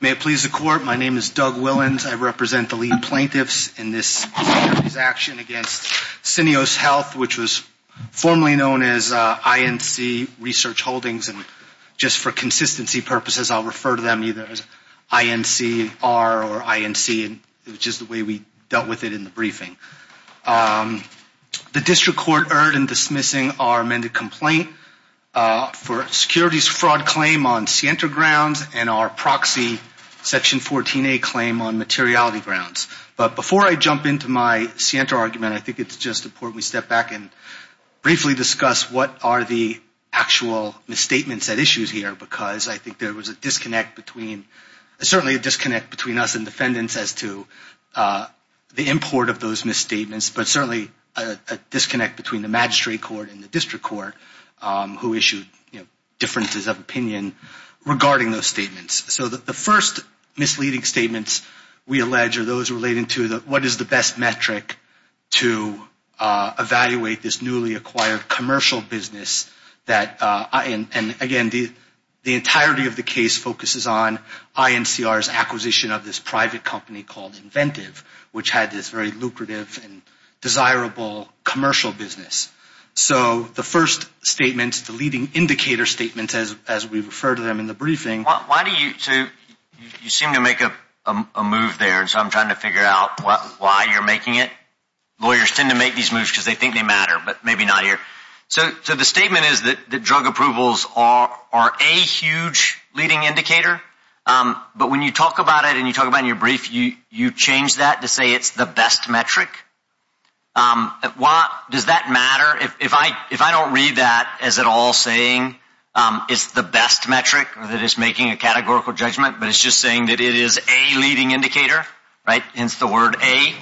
May it please the court, my name is Doug Willans, I represent the lead plaintiffs in this action against Syneos Health, which was formerly known as INC Research Holdings, and just for consistency purposes, I'll refer to them either as INCR or INC, which is the way we dealt with it in the briefing. The district court erred in dismissing our amended complaint for securities fraud claim on Sienta grounds and our proxy Section 14a claim on materiality grounds. But before I jump into my Sienta argument, I think it's just important we step back and briefly discuss what are the actual misstatements at issue here, because I think there was a disconnect between, certainly a disconnect between us and defendants as to the import of those misstatements, but certainly a disconnect between the magistrate court and the district court who issued differences of opinion regarding those statements. So the first misleading statements we allege are those relating to what is the best metric to evaluate this newly acquired commercial business that, and again, the entirety of the case focuses on INCR's acquisition of this private company called Inventive, which had this very lucrative and desirable commercial business. So the first statement, the leading indicator statement, as we refer to them in the briefing— Does that matter? If I don't read that as at all saying it's the best metric or that it's making a categorical judgment, but it's just saying that it is a leading indicator, right, hence the word a,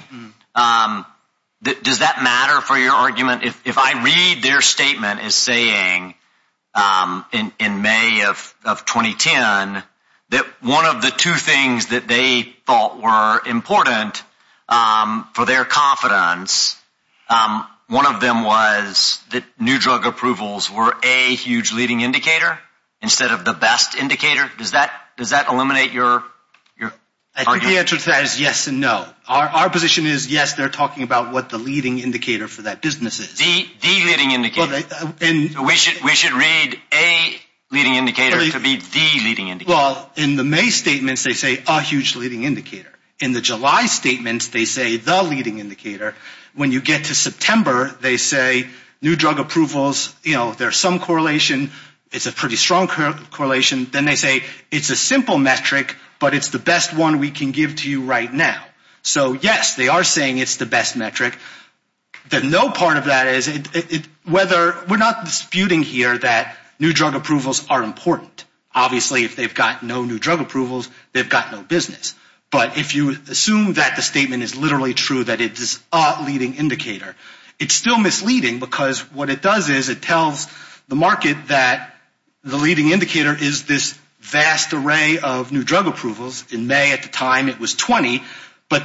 does that matter for your argument? If I read their statement as saying in May of 2010 that one of the two things that they thought were important for their confidence, one of them was that new drug approvals were a huge leading indicator instead of the best indicator, does that eliminate your argument? Our answer to that is yes and no. Our position is yes, they're talking about what the leading indicator for that business is. The leading indicator. We should read a leading indicator to be the leading indicator. Well, in the May statements, they say a huge leading indicator. In the July statements, they say the leading indicator. When you get to September, they say new drug approvals, there's some correlation. It's a pretty strong correlation. Then they say it's a simple metric, but it's the best one we can give to you right now. So yes, they are saying it's the best metric. The no part of that is whether – we're not disputing here that new drug approvals are important. Obviously, if they've got no new drug approvals, they've got no business. But if you assume that the statement is literally true that it's a leading indicator, it's still misleading because what it does is it tells the market that the leading indicator is this vast array of new drug approvals. In May at the time, it was 20, but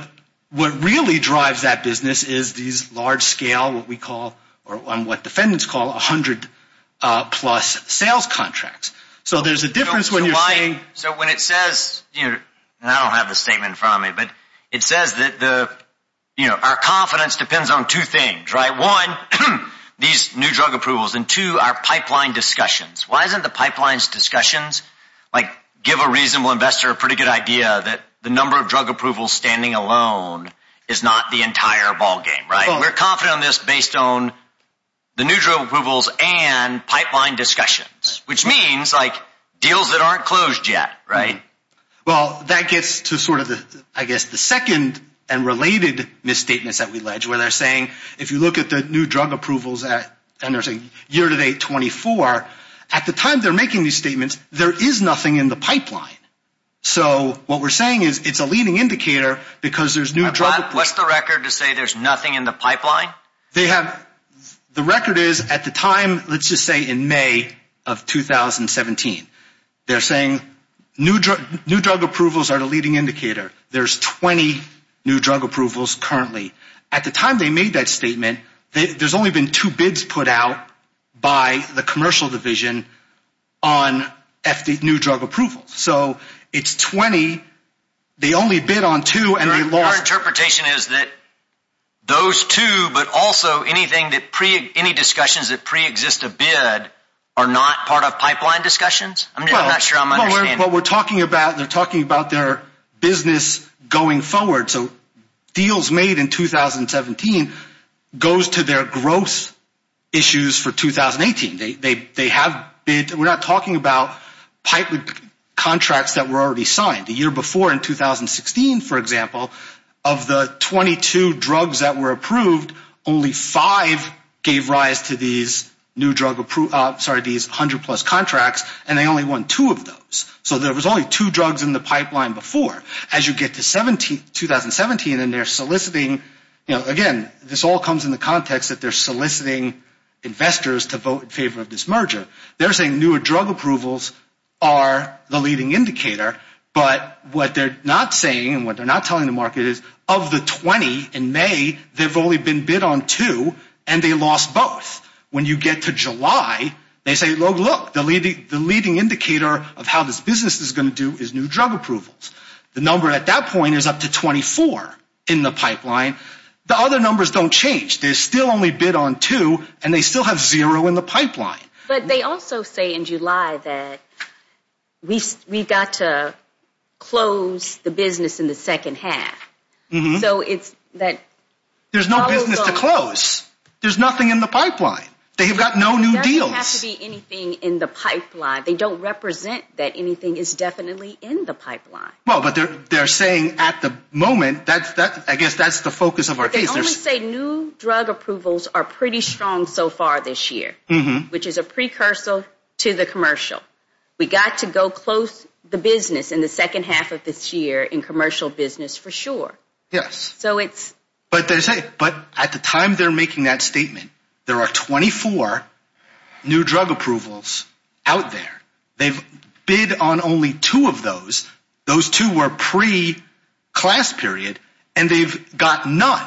what really drives that business is these large-scale, what we call – or what defendants call 100-plus sales contracts. So there's a difference when you're saying – So when it says – and I don't have the statement in front of me, but it says that our confidence depends on two things, right? One, these new drug approvals, and two, our pipeline discussions. Why isn't the pipelines discussions? Like give a reasonable investor a pretty good idea that the number of drug approvals standing alone is not the entire ballgame, right? We're confident on this based on the new drug approvals and pipeline discussions, which means like deals that aren't closed yet, right? Well, that gets to sort of the – I guess the second and related misstatements that we allege where they're saying if you look at the new drug approvals at – and they're saying year-to-date 24. At the time they're making these statements, there is nothing in the pipeline. So what we're saying is it's a leading indicator because there's new drug – What's the record to say there's nothing in the pipeline? They have – the record is at the time, let's just say in May of 2017, they're saying new drug approvals are the leading indicator. There's 20 new drug approvals currently. At the time they made that statement, there's only been two bids put out by the commercial division on new drug approvals. So it's 20. So our interpretation is that those two but also anything that – any discussions that preexist a bid are not part of pipeline discussions? I'm not sure I'm understanding. Well, what we're talking about, they're talking about their business going forward. So deals made in 2017 goes to their gross issues for 2018. They have bid – we're not talking about pipeline contracts that were already signed. The year before in 2016, for example, of the 22 drugs that were approved, only five gave rise to these new drug – sorry, these 100-plus contracts. And they only won two of those. So there was only two drugs in the pipeline before. As you get to 2017 and they're soliciting – again, this all comes in the context that they're soliciting investors to vote in favor of this merger. They're saying newer drug approvals are the leading indicator. But what they're not saying and what they're not telling the market is of the 20 in May, there have only been bid on two and they lost both. When you get to July, they say, look, the leading indicator of how this business is going to do is new drug approvals. The number at that point is up to 24 in the pipeline. The other numbers don't change. They still only bid on two and they still have zero in the pipeline. But they also say in July that we've got to close the business in the second half. So it's that – There's no business to close. There's nothing in the pipeline. They have got no new deals. There doesn't have to be anything in the pipeline. They don't represent that anything is definitely in the pipeline. Well, but they're saying at the moment, I guess that's the focus of our case. They only say new drug approvals are pretty strong so far this year, which is a precursor to the commercial. We've got to go close the business in the second half of this year in commercial business for sure. Yes. So it's – But at the time they're making that statement, there are 24 new drug approvals out there. They've bid on only two of those. Those two were pre-class period, and they've got none.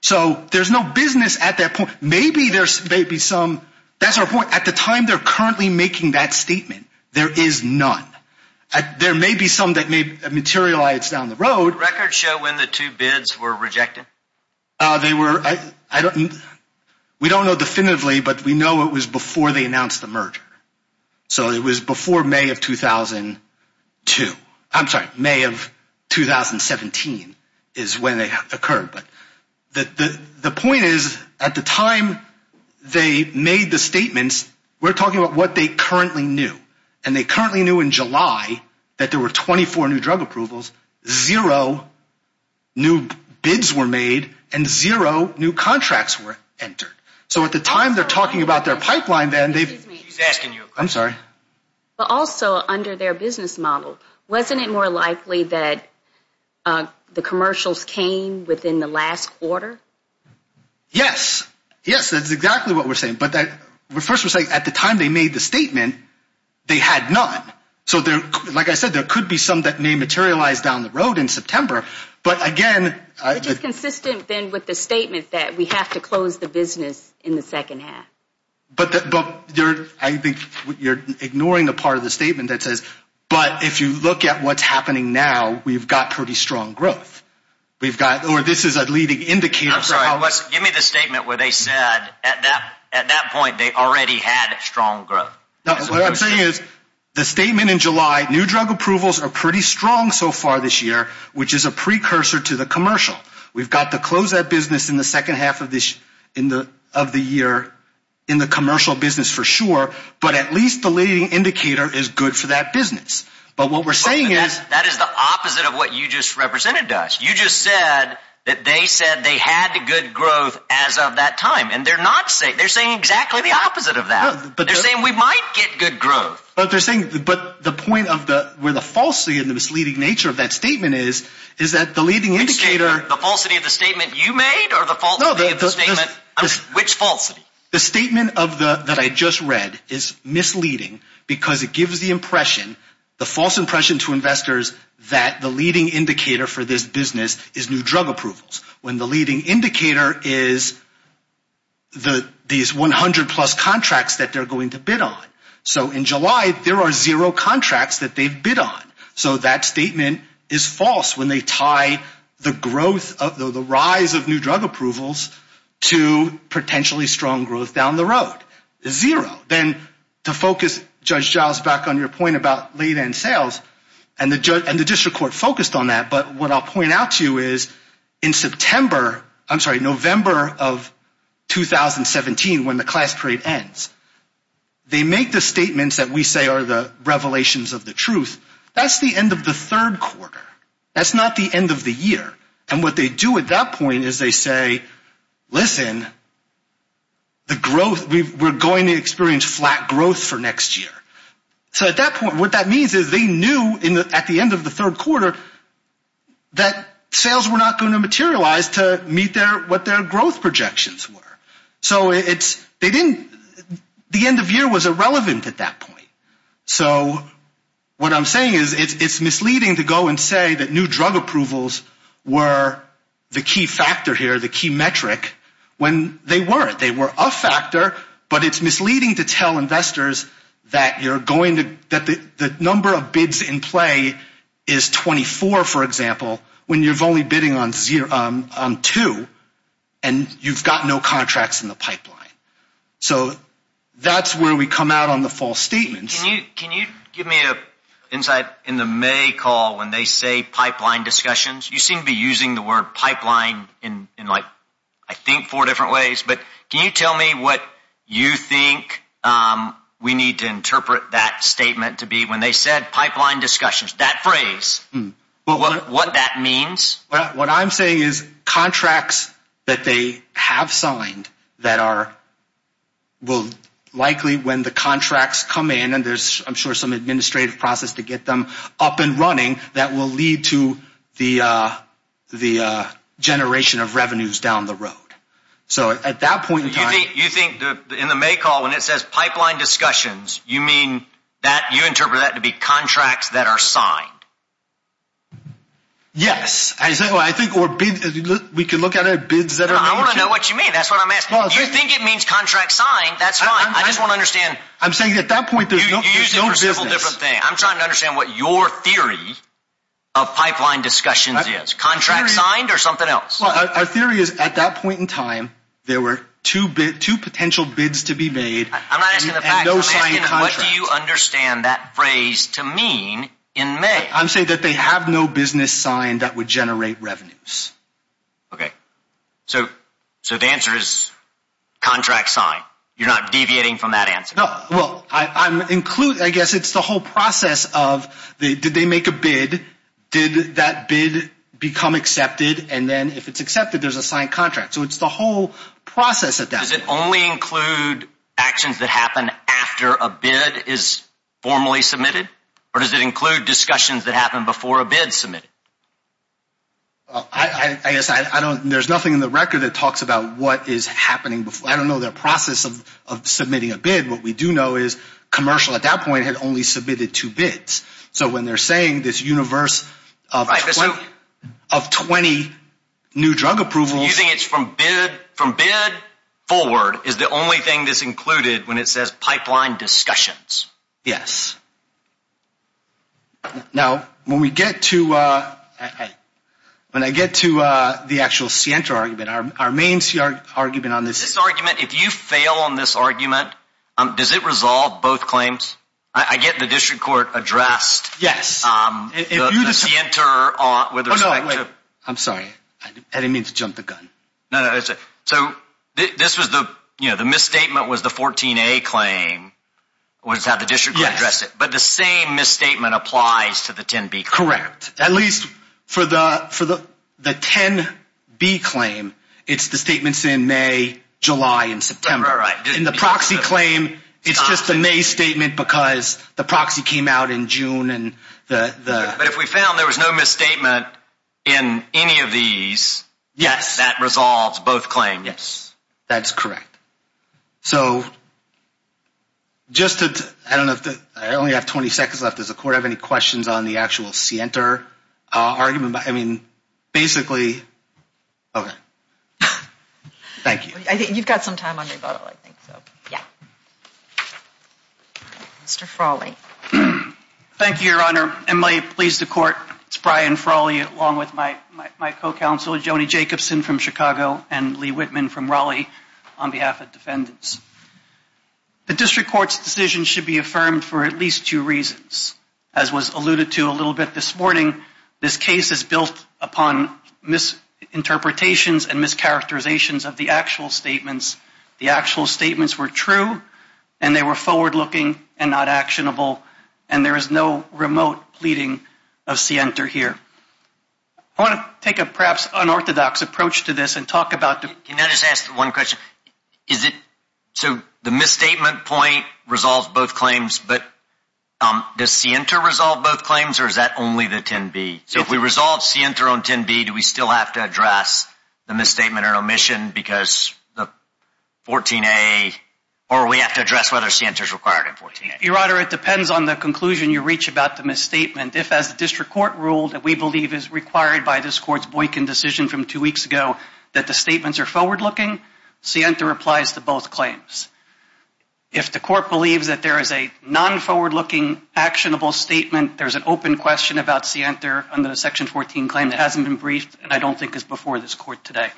So there's no business at that point. Maybe there's maybe some – that's our point. At the time they're currently making that statement, there is none. There may be some that may materialize down the road. Records show when the two bids were rejected. They were – I don't – we don't know definitively, but we know it was before they announced the merger. So it was before May of 2002. I'm sorry. May of 2017 is when they occurred. But the point is at the time they made the statements, we're talking about what they currently knew. And they currently knew in July that there were 24 new drug approvals, zero new bids were made, and zero new contracts were entered. So at the time they're talking about their pipeline, then they've – Excuse me. She's asking you a question. I'm sorry. But also under their business model, wasn't it more likely that the commercials came within the last quarter? Yes. Yes, that's exactly what we're saying. But first we're saying at the time they made the statement, they had none. So, like I said, there could be some that may materialize down the road in September. But, again – Which is consistent, then, with the statement that we have to close the business in the second half. But I think you're ignoring the part of the statement that says, but if you look at what's happening now, we've got pretty strong growth. We've got – or this is a leading indicator – I'm sorry. Give me the statement where they said at that point they already had strong growth. What I'm saying is the statement in July, new drug approvals are pretty strong so far this year, which is a precursor to the commercial. We've got to close that business in the second half of the year in the commercial business for sure, but at least the leading indicator is good for that business. But what we're saying is – That is the opposite of what you just represented, Dash. You just said that they said they had good growth as of that time, and they're saying exactly the opposite of that. They're saying we might get good growth. But they're saying – but the point of the – where the falsity and the misleading nature of that statement is is that the leading indicator – Which statement? The falsity of the statement you made or the falsity of the statement – which falsity? The statement of the – that I just read is misleading because it gives the impression, the false impression to investors that the leading indicator for this business is new drug approvals when the leading indicator is these 100-plus contracts that they're going to bid on. So in July, there are zero contracts that they've bid on. So that statement is false when they tie the growth – the rise of new drug approvals to potentially strong growth down the road. Zero. Then to focus, Judge Giles, back on your point about late-end sales, and the district court focused on that, but what I'll point out to you is in September – I'm sorry, November of 2017 when the class trade ends. They make the statements that we say are the revelations of the truth. That's the end of the third quarter. That's not the end of the year. And what they do at that point is they say, listen, the growth – we're going to experience flat growth for next year. So at that point, what that means is they knew at the end of the third quarter that sales were not going to materialize to meet what their growth projections were. So they didn't – the end of year was irrelevant at that point. So what I'm saying is it's misleading to go and say that new drug approvals were the key factor here, the key metric, when they weren't. They were a factor, but it's misleading to tell investors that you're going to – that the number of bids in play is 24, for example, when you're only bidding on two and you've got no contracts in the pipeline. So that's where we come out on the false statements. Can you give me an insight in the May call when they say pipeline discussions? You seem to be using the word pipeline in, like, I think four different ways. But can you tell me what you think we need to interpret that statement to be when they said pipeline discussions, that phrase, what that means? What I'm saying is contracts that they have signed that are – will likely, when the contracts come in and there's, I'm sure, some administrative process to get them up and running, that will lead to the generation of revenues down the road. So at that point in time – You think in the May call when it says pipeline discussions, you mean that – you interpret that to be contracts that are signed? Yes. I think – or bids – we can look at it as bids that are – No, I want to know what you mean. That's what I'm asking. If you think it means contracts signed, that's fine. I just want to understand – I'm saying at that point there's no business. You use it for several different things. I'm trying to understand what your theory of pipeline discussions is. Contracts signed or something else? Well, our theory is at that point in time there were two potential bids to be made and no signed contracts. I'm not asking the facts. I'm asking what do you understand that phrase to mean in May? I'm saying that they have no business signed that would generate revenues. Okay. So the answer is contracts signed. You're not deviating from that answer. Well, I'm – I guess it's the whole process of did they make a bid? Did that bid become accepted? And then if it's accepted, there's a signed contract. So it's the whole process at that point. Does it only include actions that happen after a bid is formally submitted, or does it include discussions that happen before a bid is submitted? I guess I don't – there's nothing in the record that talks about what is happening – I don't know their process of submitting a bid. What we do know is commercial at that point had only submitted two bids. So when they're saying this universe of 20 new drug approvals – Forward is the only thing that's included when it says pipeline discussions. Yes. Now, when we get to – when I get to the actual Siento argument, our main argument on this – This argument, if you fail on this argument, does it resolve both claims? I get the district court addressed. Yes. The Siento with respect to – Oh, no, wait. I'm sorry. I didn't mean to jump the gun. So this was the – the misstatement was the 14A claim was how the district court addressed it. Yes. But the same misstatement applies to the 10B claim. Correct. At least for the 10B claim, it's the statements in May, July, and September. All right. In the proxy claim, it's just a May statement because the proxy came out in June and the – But if we found there was no misstatement in any of these – Yes. That resolves both claims. Yes. That's correct. So just to – I don't know if – I only have 20 seconds left. Does the court have any questions on the actual Siento argument? I mean, basically – okay. Thank you. I think you've got some time on your bottle, I think, so yeah. Mr. Frawley. Thank you, Your Honor. And may it please the court, it's Brian Frawley along with my co-counsel, Joni Jacobson from Chicago, and Lee Whitman from Raleigh, on behalf of defendants. The district court's decision should be affirmed for at least two reasons. As was alluded to a little bit this morning, this case is built upon misinterpretations and mischaracterizations of the actual statements. The actual statements were true, and they were forward-looking and not actionable, and there is no remote pleading of Siento here. I want to take a perhaps unorthodox approach to this and talk about the – Can I just ask one question? Is it – so the misstatement point resolves both claims, but does Siento resolve both claims, or is that only the 10B? So if we resolve Siento on 10B, do we still have to address the misstatement or omission because the 14A – or we have to address whether Siento is required in 14A? Your Honor, it depends on the conclusion you reach about the misstatement. If, as the district court ruled, we believe it is required by this court's Boykin decision from two weeks ago that the statements are forward-looking, Siento applies to both claims. If the court believes that there is a non-forward-looking, actionable statement, there is an open question about Siento under the Section 14 claim that hasn't been briefed and I don't think is before this court today.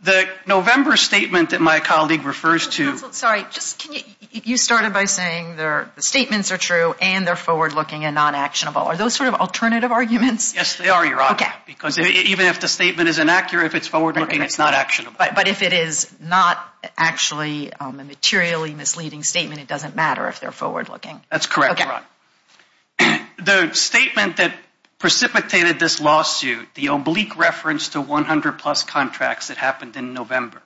The November statement that my colleague refers to – Counsel, sorry, just can you – you started by saying the statements are true and they're forward-looking and non-actionable. Are those sort of alternative arguments? Yes, they are, Your Honor, because even if the statement is inaccurate, if it's forward-looking, it's not actionable. But if it is not actually a materially misleading statement, it doesn't matter if they're forward-looking. That's correct, Your Honor. The statement that precipitated this lawsuit, the oblique reference to 100-plus contracts that happened in November,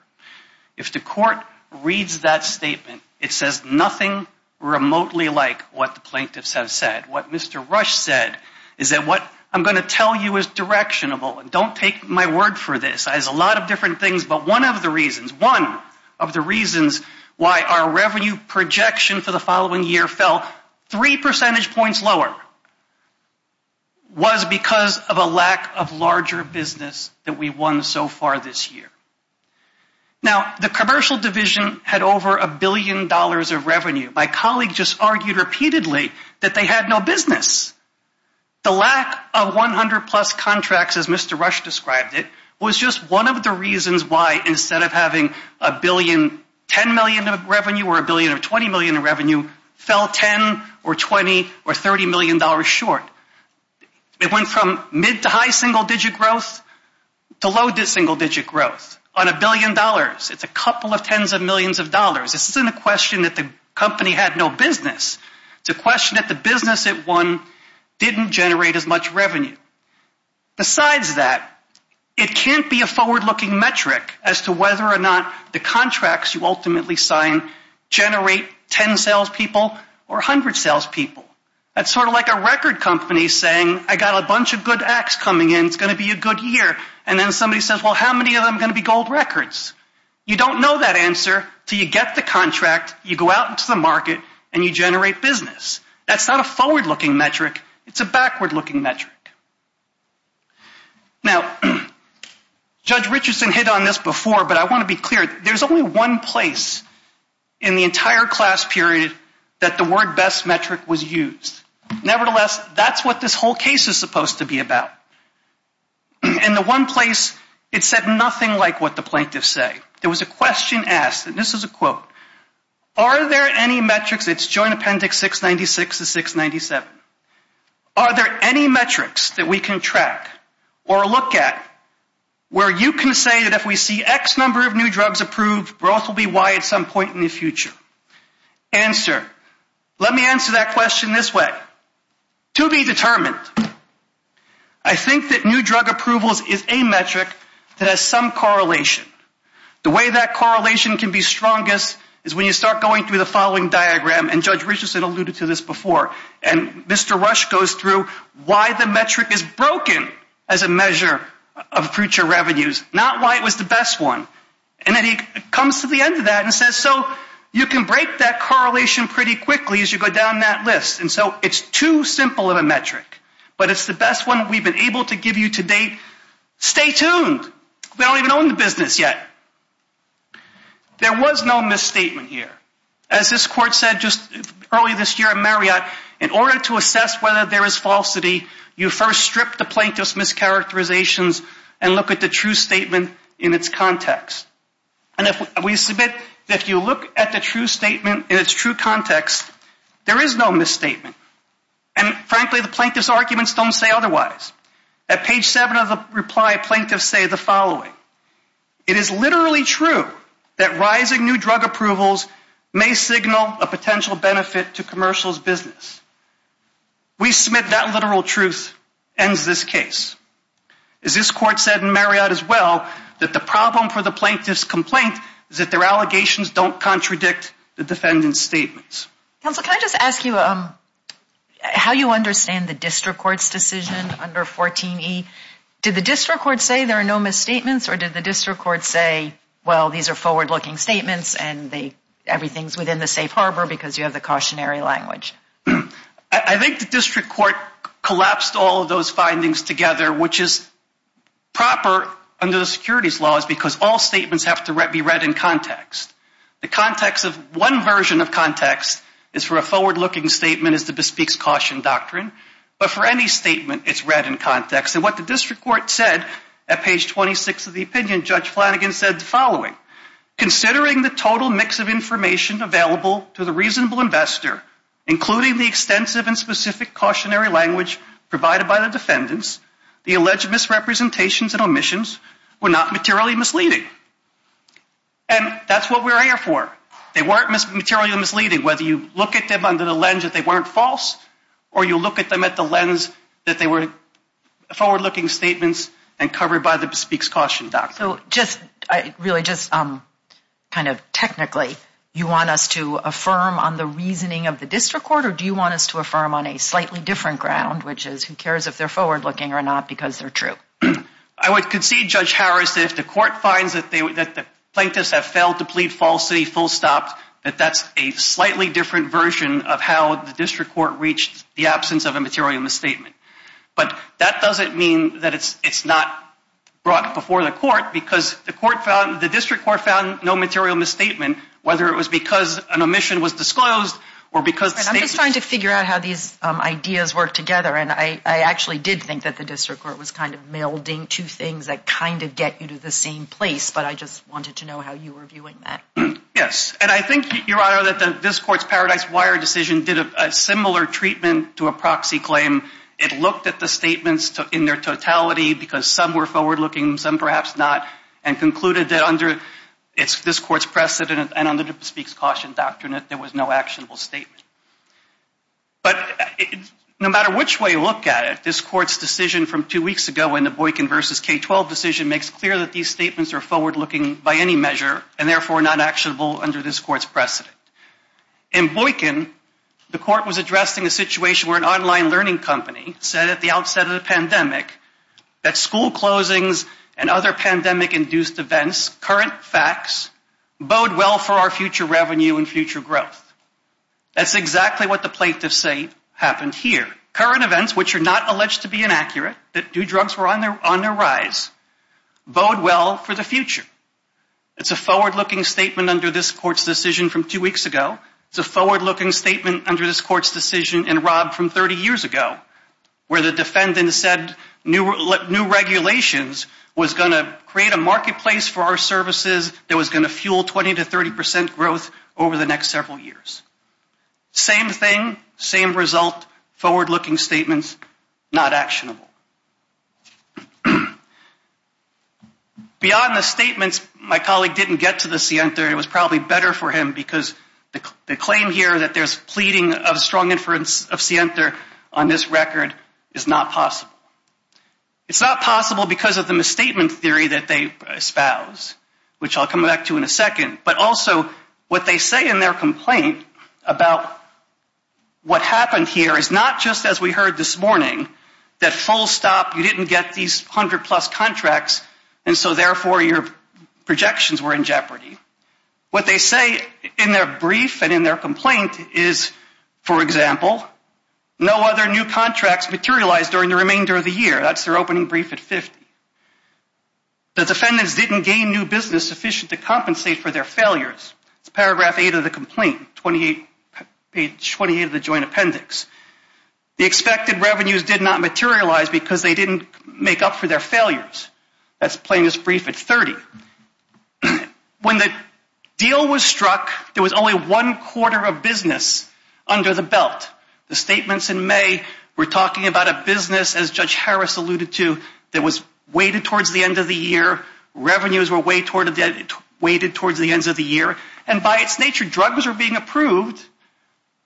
if the court reads that statement, it says nothing remotely like what the plaintiffs have said. What Mr. Rush said is that what I'm going to tell you is directionable. Don't take my word for this. There's a lot of different things, but one of the reasons, one of the reasons why our revenue projection for the following year fell three percentage points lower was because of a lack of larger business that we've won so far this year. Now, the commercial division had over a billion dollars of revenue. My colleague just argued repeatedly that they had no business. The lack of 100-plus contracts, as Mr. Rush described it, was just one of the reasons why instead of having a billion, 10 million of revenue or a billion or 20 million of revenue fell 10 or 20 or 30 million dollars short. It went from mid to high single-digit growth to low single-digit growth on a billion dollars. It's a couple of tens of millions of dollars. This isn't a question that the company had no business. It's a question that the business it won didn't generate as much revenue. Besides that, it can't be a forward-looking metric as to whether or not the contracts you ultimately sign generate 10 salespeople or 100 salespeople. That's sort of like a record company saying I got a bunch of good acts coming in. It's going to be a good year. And then somebody says, well, how many of them are going to be gold records? You don't know that answer until you get the contract, you go out into the market, and you generate business. That's not a forward-looking metric. It's a backward-looking metric. Now, Judge Richardson hit on this before, but I want to be clear. There's only one place in the entire class period that the word best metric was used. Nevertheless, that's what this whole case is supposed to be about. In the one place, it said nothing like what the plaintiffs say. There was a question asked, and this is a quote. Are there any metrics? It's joint appendix 696 to 697. Are there any metrics that we can track or look at where you can say that if we see X number of new drugs approved, growth will be Y at some point in the future? Answer. Let me answer that question this way. To be determined, I think that new drug approvals is a metric that has some correlation. The way that correlation can be strongest is when you start going through the following diagram, and Judge Richardson alluded to this before, and Mr. Rush goes through why the metric is broken as a measure of future revenues, not why it was the best one. And then he comes to the end of that and says, so you can break that correlation pretty quickly as you go down that list. And so it's too simple of a metric, but it's the best one we've been able to give you to date. Stay tuned. We don't even own the business yet. There was no misstatement here. As this court said just early this year in Marriott, in order to assess whether there is falsity, you first strip the plaintiff's mischaracterizations and look at the true statement in its context. And we submit that if you look at the true statement in its true context, there is no misstatement. And frankly, the plaintiff's arguments don't say otherwise. At page 7 of the reply, plaintiffs say the following. It is literally true that rising new drug approvals may signal a potential benefit to commercials business. We submit that literal truth ends this case. As this court said in Marriott as well, that the problem for the plaintiff's complaint is that their allegations don't contradict the defendant's statements. Counsel, can I just ask you how you understand the district court's decision under 14E? Did the district court say there are no misstatements, or did the district court say, well, these are forward-looking statements and everything is within the safe harbor because you have the cautionary language? I think the district court collapsed all of those findings together, which is proper under the securities laws because all statements have to be read in context. The context of one version of context is for a forward-looking statement as to Bespeak's Caution Doctrine. But for any statement, it's read in context. And what the district court said at page 26 of the opinion, Judge Flanagan said the following. Considering the total mix of information available to the reasonable investor, including the extensive and specific cautionary language provided by the defendants, the alleged misrepresentations and omissions were not materially misleading. And that's what we're here for. They weren't materially misleading, whether you look at them under the lens that they weren't false or you look at them at the lens that they were forward-looking statements and covered by the Bespeak's Caution Doctrine. So just really just kind of technically, you want us to affirm on the reasoning of the district court or do you want us to affirm on a slightly different ground, which is who cares if they're forward-looking or not because they're true? I would concede, Judge Harris, that if the court finds that the plaintiffs have failed to plead falsely, full stop, that that's a slightly different version of how the district court reached the absence of a material misstatement. But that doesn't mean that it's not brought before the court because the district court found no material misstatement, whether it was because an omission was disclosed or because the statement I'm just trying to figure out how these ideas work together, and I actually did think that the district court was kind of melding two things that kind of get you to the same place, but I just wanted to know how you were viewing that. Yes, and I think, Your Honor, that this court's Paradise Wire decision did a similar treatment to a proxy claim. It looked at the statements in their totality because some were forward-looking, some perhaps not, and concluded that under this court's precedent and under the Bespeak's Caution Doctrine that there was no actionable statement. But no matter which way you look at it, this court's decision from two weeks ago in the Boykin v. K-12 decision makes clear that these statements are forward-looking by any measure and therefore not actionable under this court's precedent. In Boykin, the court was addressing a situation where an online learning company said at the outset of the pandemic that school closings and other pandemic-induced events, current facts, bode well for our future revenue and future growth. That's exactly what the plaintiffs say happened here. Current events, which are not alleged to be inaccurate, that do drugs were on the rise, bode well for the future. It's a forward-looking statement under this court's decision from two weeks ago. It's a forward-looking statement under this court's decision in Robb from 30 years ago where the defendant said new regulations was going to create a marketplace for our services that was going to fuel 20 to 30 percent growth over the next several years. Same thing, same result, forward-looking statements, not actionable. Beyond the statements, my colleague didn't get to the scienter. It was probably better for him because the claim here that there's pleading of strong inference of scienter on this record is not possible. It's not possible because of the misstatement theory that they espouse, which I'll come back to in a second, but also what they say in their complaint about what happened here is not just, as we heard this morning, that full stop, you didn't get these 100-plus contracts, and so therefore your projections were in jeopardy. What they say in their brief and in their complaint is, for example, no other new contracts materialized during the remainder of the year. That's their opening brief at 50. The defendants didn't gain new business sufficient to compensate for their failures. It's paragraph 8 of the complaint, 28 of the joint appendix. The expected revenues did not materialize because they didn't make up for their failures. That's plaintiff's brief at 30. When the deal was struck, there was only one quarter of business under the belt. The statements in May were talking about a business, as Judge Harris alluded to, that was weighted towards the end of the year. Revenues were weighted towards the end of the year. And by its nature, drugs were being approved.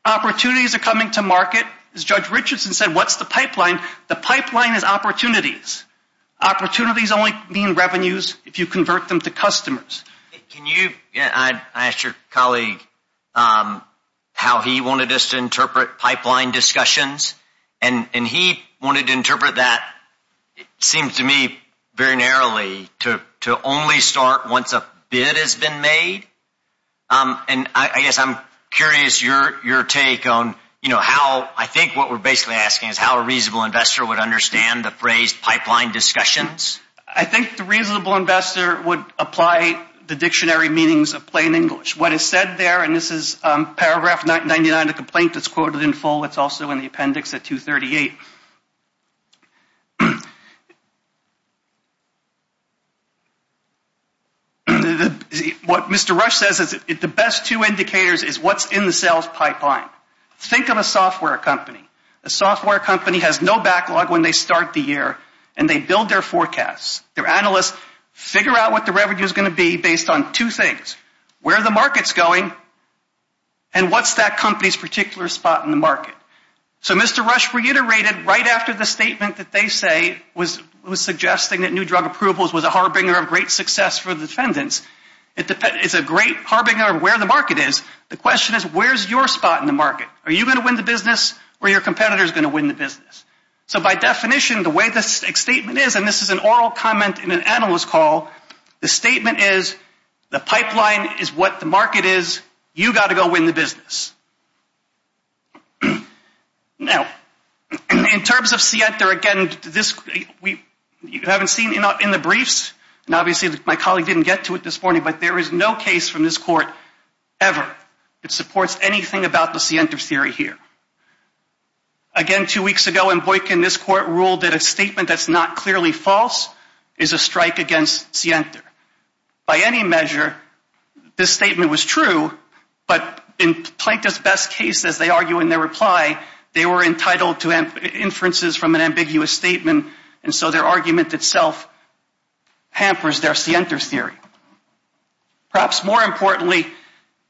Opportunities are coming to market. As Judge Richardson said, what's the pipeline? The pipeline is opportunities. Opportunities only mean revenues if you convert them to customers. I asked your colleague how he wanted us to interpret pipeline discussions, and he wanted to interpret that, it seems to me very narrowly, to only start once a bid has been made. And I guess I'm curious your take on how, I think what we're basically asking is how a reasonable investor would understand the phrase pipeline discussions. I think the reasonable investor would apply the dictionary meanings of plain English. What is said there, and this is paragraph 99 of the complaint that's quoted in full. It's also in the appendix at 238. What Mr. Rush says is the best two indicators is what's in the sales pipeline. Think of a software company. A software company has no backlog when they start the year, and they build their forecasts. Their analysts figure out what the revenue is going to be based on two things. Where are the markets going, and what's that company's particular spot in the market? So Mr. Rush reiterated right after the statement that they say was suggesting that new drug approvals was a harbinger of great success for the defendants. It's a great harbinger of where the market is. The question is where's your spot in the market? Are you going to win the business, or are your competitors going to win the business? So by definition, the way this statement is, and this is an oral comment in an analyst call, the statement is the pipeline is what the market is. You've got to go win the business. Now, in terms of Sienta, again, you haven't seen in the briefs, and obviously my colleague didn't get to it this morning, but there is no case from this court ever that supports anything about the Sienta theory here. Again, two weeks ago in Boykin, this court ruled that a statement that's not clearly false is a strike against Sienta. By any measure, this statement was true, but in Plankton's best case, as they argue in their reply, they were entitled to inferences from an ambiguous statement, and so their argument itself hampers their Sienta theory. Perhaps more importantly,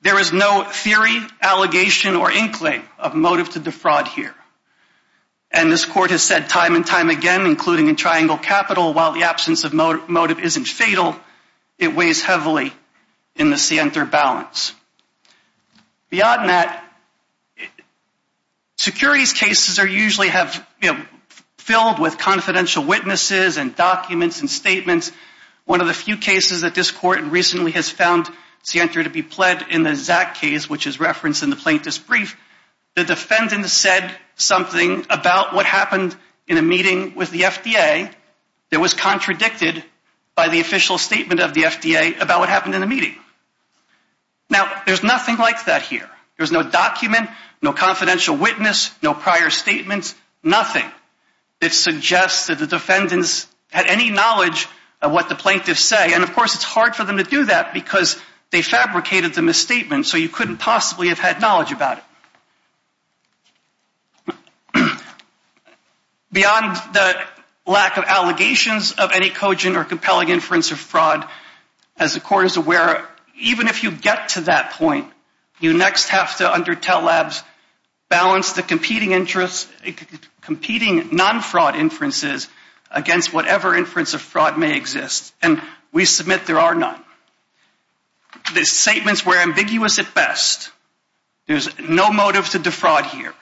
there is no theory, allegation, or incline of motive to defraud here. And this court has said time and time again, including in Triangle Capital, while the absence of motive isn't fatal, it weighs heavily in the Sienta balance. Beyond that, securities cases are usually filled with confidential witnesses and documents and statements. One of the few cases that this court recently has found Sienta to be pled in the Zach case, which is referenced in the plaintiff's brief, the defendant said something about what happened in a meeting with the FDA that was contradicted by the official statement of the FDA about what happened in the meeting. Now, there's nothing like that here. There's no document, no confidential witness, no prior statements, nothing. It suggests that the defendants had any knowledge of what the plaintiffs say, and of course it's hard for them to do that because they fabricated the misstatement so you couldn't possibly have had knowledge about it. Beyond the lack of allegations of any cogent or compelling inference of fraud, as the court is aware, even if you get to that point, you next have to, under TELL Labs, balance the competing non-fraud inferences against whatever inference of fraud may exist. And we submit there are none. The statements were ambiguous at best. There's no motive to defraud here.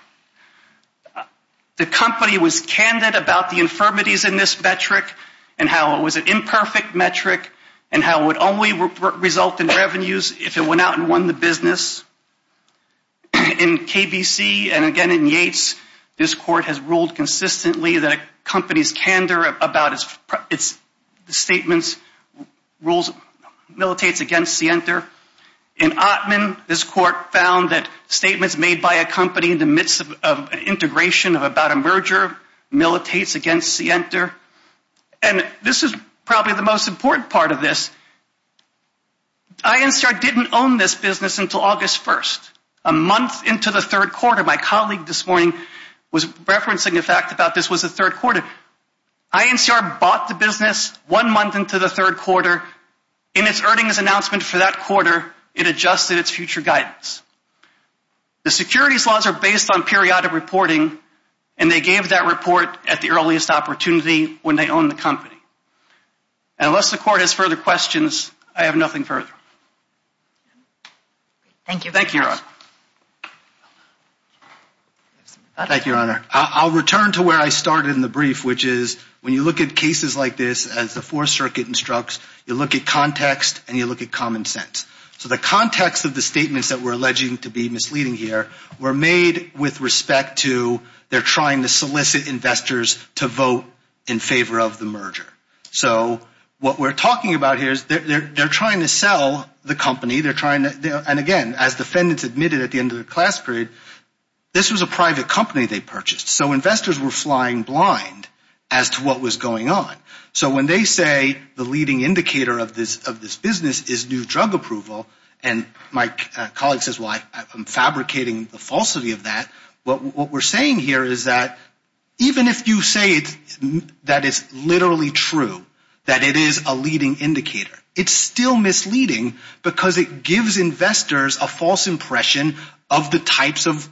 The company was candid about the infirmities in this metric and how it was an imperfect metric and how it would only result in revenues if it went out and won the business. In KBC and again in Yates, this court has ruled consistently that a company's candor about its statements militates against the enter. In Ottman, this court found that statements made by a company in the midst of integration of about a merger militates against the enter. And this is probably the most important part of this. INCR didn't own this business until August 1st, a month into the third quarter. My colleague this morning was referencing the fact that this was the third quarter. INCR bought the business one month into the third quarter. In its earnings announcement for that quarter, it adjusted its future guidance. The securities laws are based on periodic reporting and they gave that report at the earliest opportunity when they owned the company. And unless the court has further questions, I have nothing further. Thank you. Thank you, Your Honor. Thank you, Your Honor. I'll return to where I started in the brief, which is when you look at cases like this, as the Fourth Circuit instructs, you look at context and you look at common sense. So the context of the statements that we're alleging to be misleading here were made with respect to they're trying to solicit investors to vote in favor of the merger. So what we're talking about here is they're trying to sell the company. They're trying to, and again, as defendants admitted at the end of the class period, this was a private company they purchased. So investors were flying blind as to what was going on. So when they say the leading indicator of this business is new drug approval, and my colleague says, well, I'm fabricating the falsity of that. What we're saying here is that even if you say that it's literally true, that it is a leading indicator, it's still misleading because it gives investors a false impression of the types of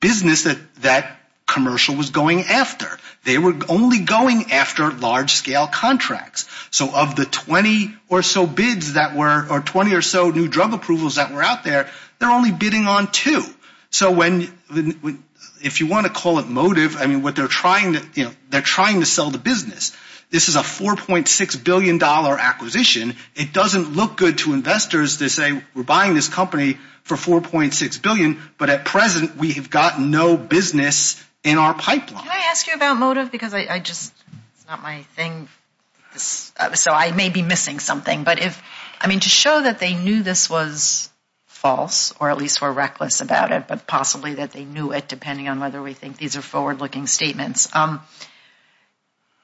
business that commercial was going after. They were only going after large-scale contracts. So of the 20 or so bids that were, or 20 or so new drug approvals that were out there, they're only bidding on two. So when, if you want to call it motive, I mean, what they're trying to, you know, they're trying to sell the business. This is a $4.6 billion acquisition. It doesn't look good to investors to say we're buying this company for $4.6 billion, but at present we have got no business in our pipeline. Can I ask you about motive? Because I just, it's not my thing, so I may be missing something. But if, I mean, to show that they knew this was false, or at least were reckless about it, but possibly that they knew it depending on whether we think these are forward-looking statements.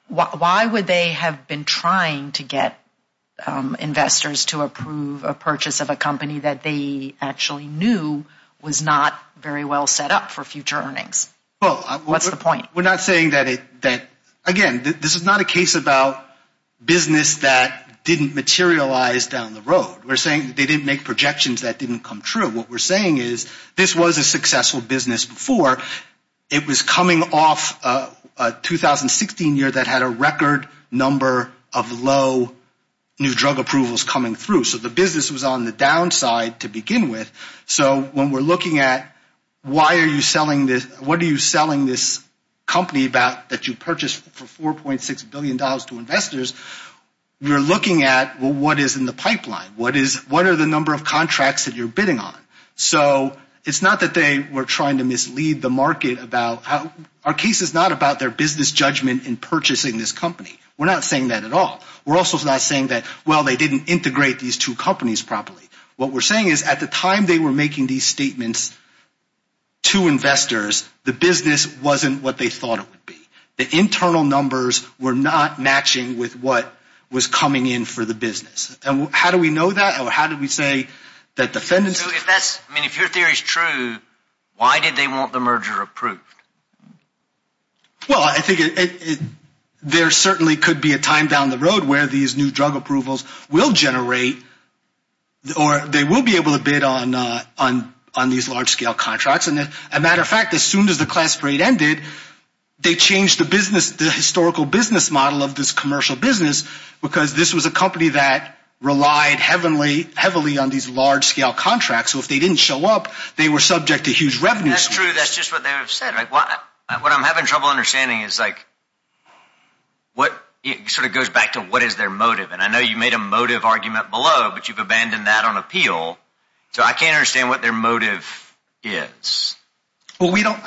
Why would they have been trying to get investors to approve a purchase of a company that they actually knew was not very well set up for future earnings? What's the point? Well, we're not saying that it, again, this is not a case about business that didn't materialize down the road. We're saying that they didn't make projections that didn't come true. What we're saying is this was a successful business before. It was coming off a 2016 year that had a record number of low new drug approvals coming through. So the business was on the downside to begin with. So when we're looking at why are you selling this, what are you selling this company about that you purchased for $4.6 billion to investors, you're looking at, well, what is in the pipeline? What are the number of contracts that you're bidding on? So it's not that they were trying to mislead the market about how, our case is not about their business judgment in purchasing this company. We're not saying that at all. We're also not saying that, well, they didn't integrate these two companies properly. What we're saying is at the time they were making these statements to investors, the business wasn't what they thought it would be. The internal numbers were not matching with what was coming in for the business. And how do we know that, or how do we say that defendants… So if that's, I mean, if your theory is true, why did they want the merger approved? Well, I think there certainly could be a time down the road where these new drug approvals will generate, or they will be able to bid on these large-scale contracts. And as a matter of fact, as soon as the class parade ended, they changed the business, the historical business model of this commercial business, because this was a company that relied heavily on these large-scale contracts. So if they didn't show up, they were subject to huge revenues. That's true. That's just what they have said. What I'm having trouble understanding is like what sort of goes back to what is their motive. And I know you made a motive argument below, but you've abandoned that on appeal. So I can't understand what their motive is. Well, we don't –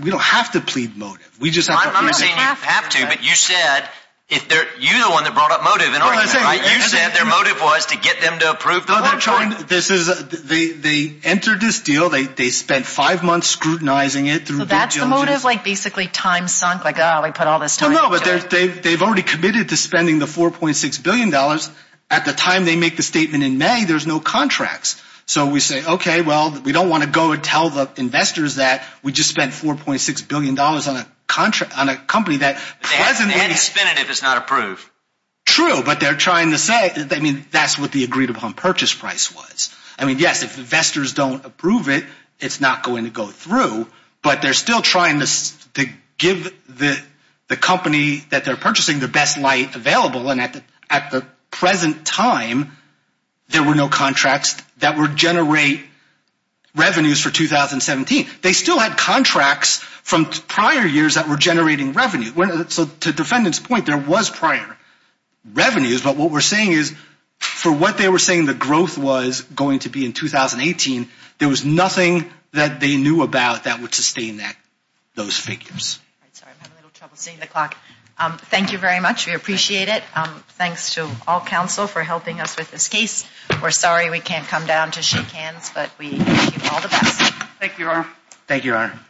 we don't have to plead motive. I'm not saying you have to, but you said – you're the one that brought up motive. You said their motive was to get them to approve the merger. They entered this deal. They spent five months scrutinizing it. So that's the motive, like basically time sunk, like, oh, we put all this time into it. No, no, but they've already committed to spending the $4.6 billion. At the time they make the statement in May, there's no contracts. So we say, okay, well, we don't want to go and tell the investors that we just spent $4.6 billion on a company that presently – And it's definitive it's not approved. True, but they're trying to say – I mean that's what the agreed upon purchase price was. I mean, yes, if investors don't approve it, it's not going to go through. But they're still trying to give the company that they're purchasing the best light available. And at the present time, there were no contracts that would generate revenues for 2017. They still had contracts from prior years that were generating revenue. So to the defendant's point, there was prior revenues. But what we're saying is for what they were saying the growth was going to be in 2018, there was nothing that they knew about that would sustain those figures. Sorry, I'm having a little trouble seeing the clock. Thank you very much. We appreciate it. Thanks to all counsel for helping us with this case. We're sorry we can't come down to shake hands, but we wish you all the best. Thank you, Your Honor.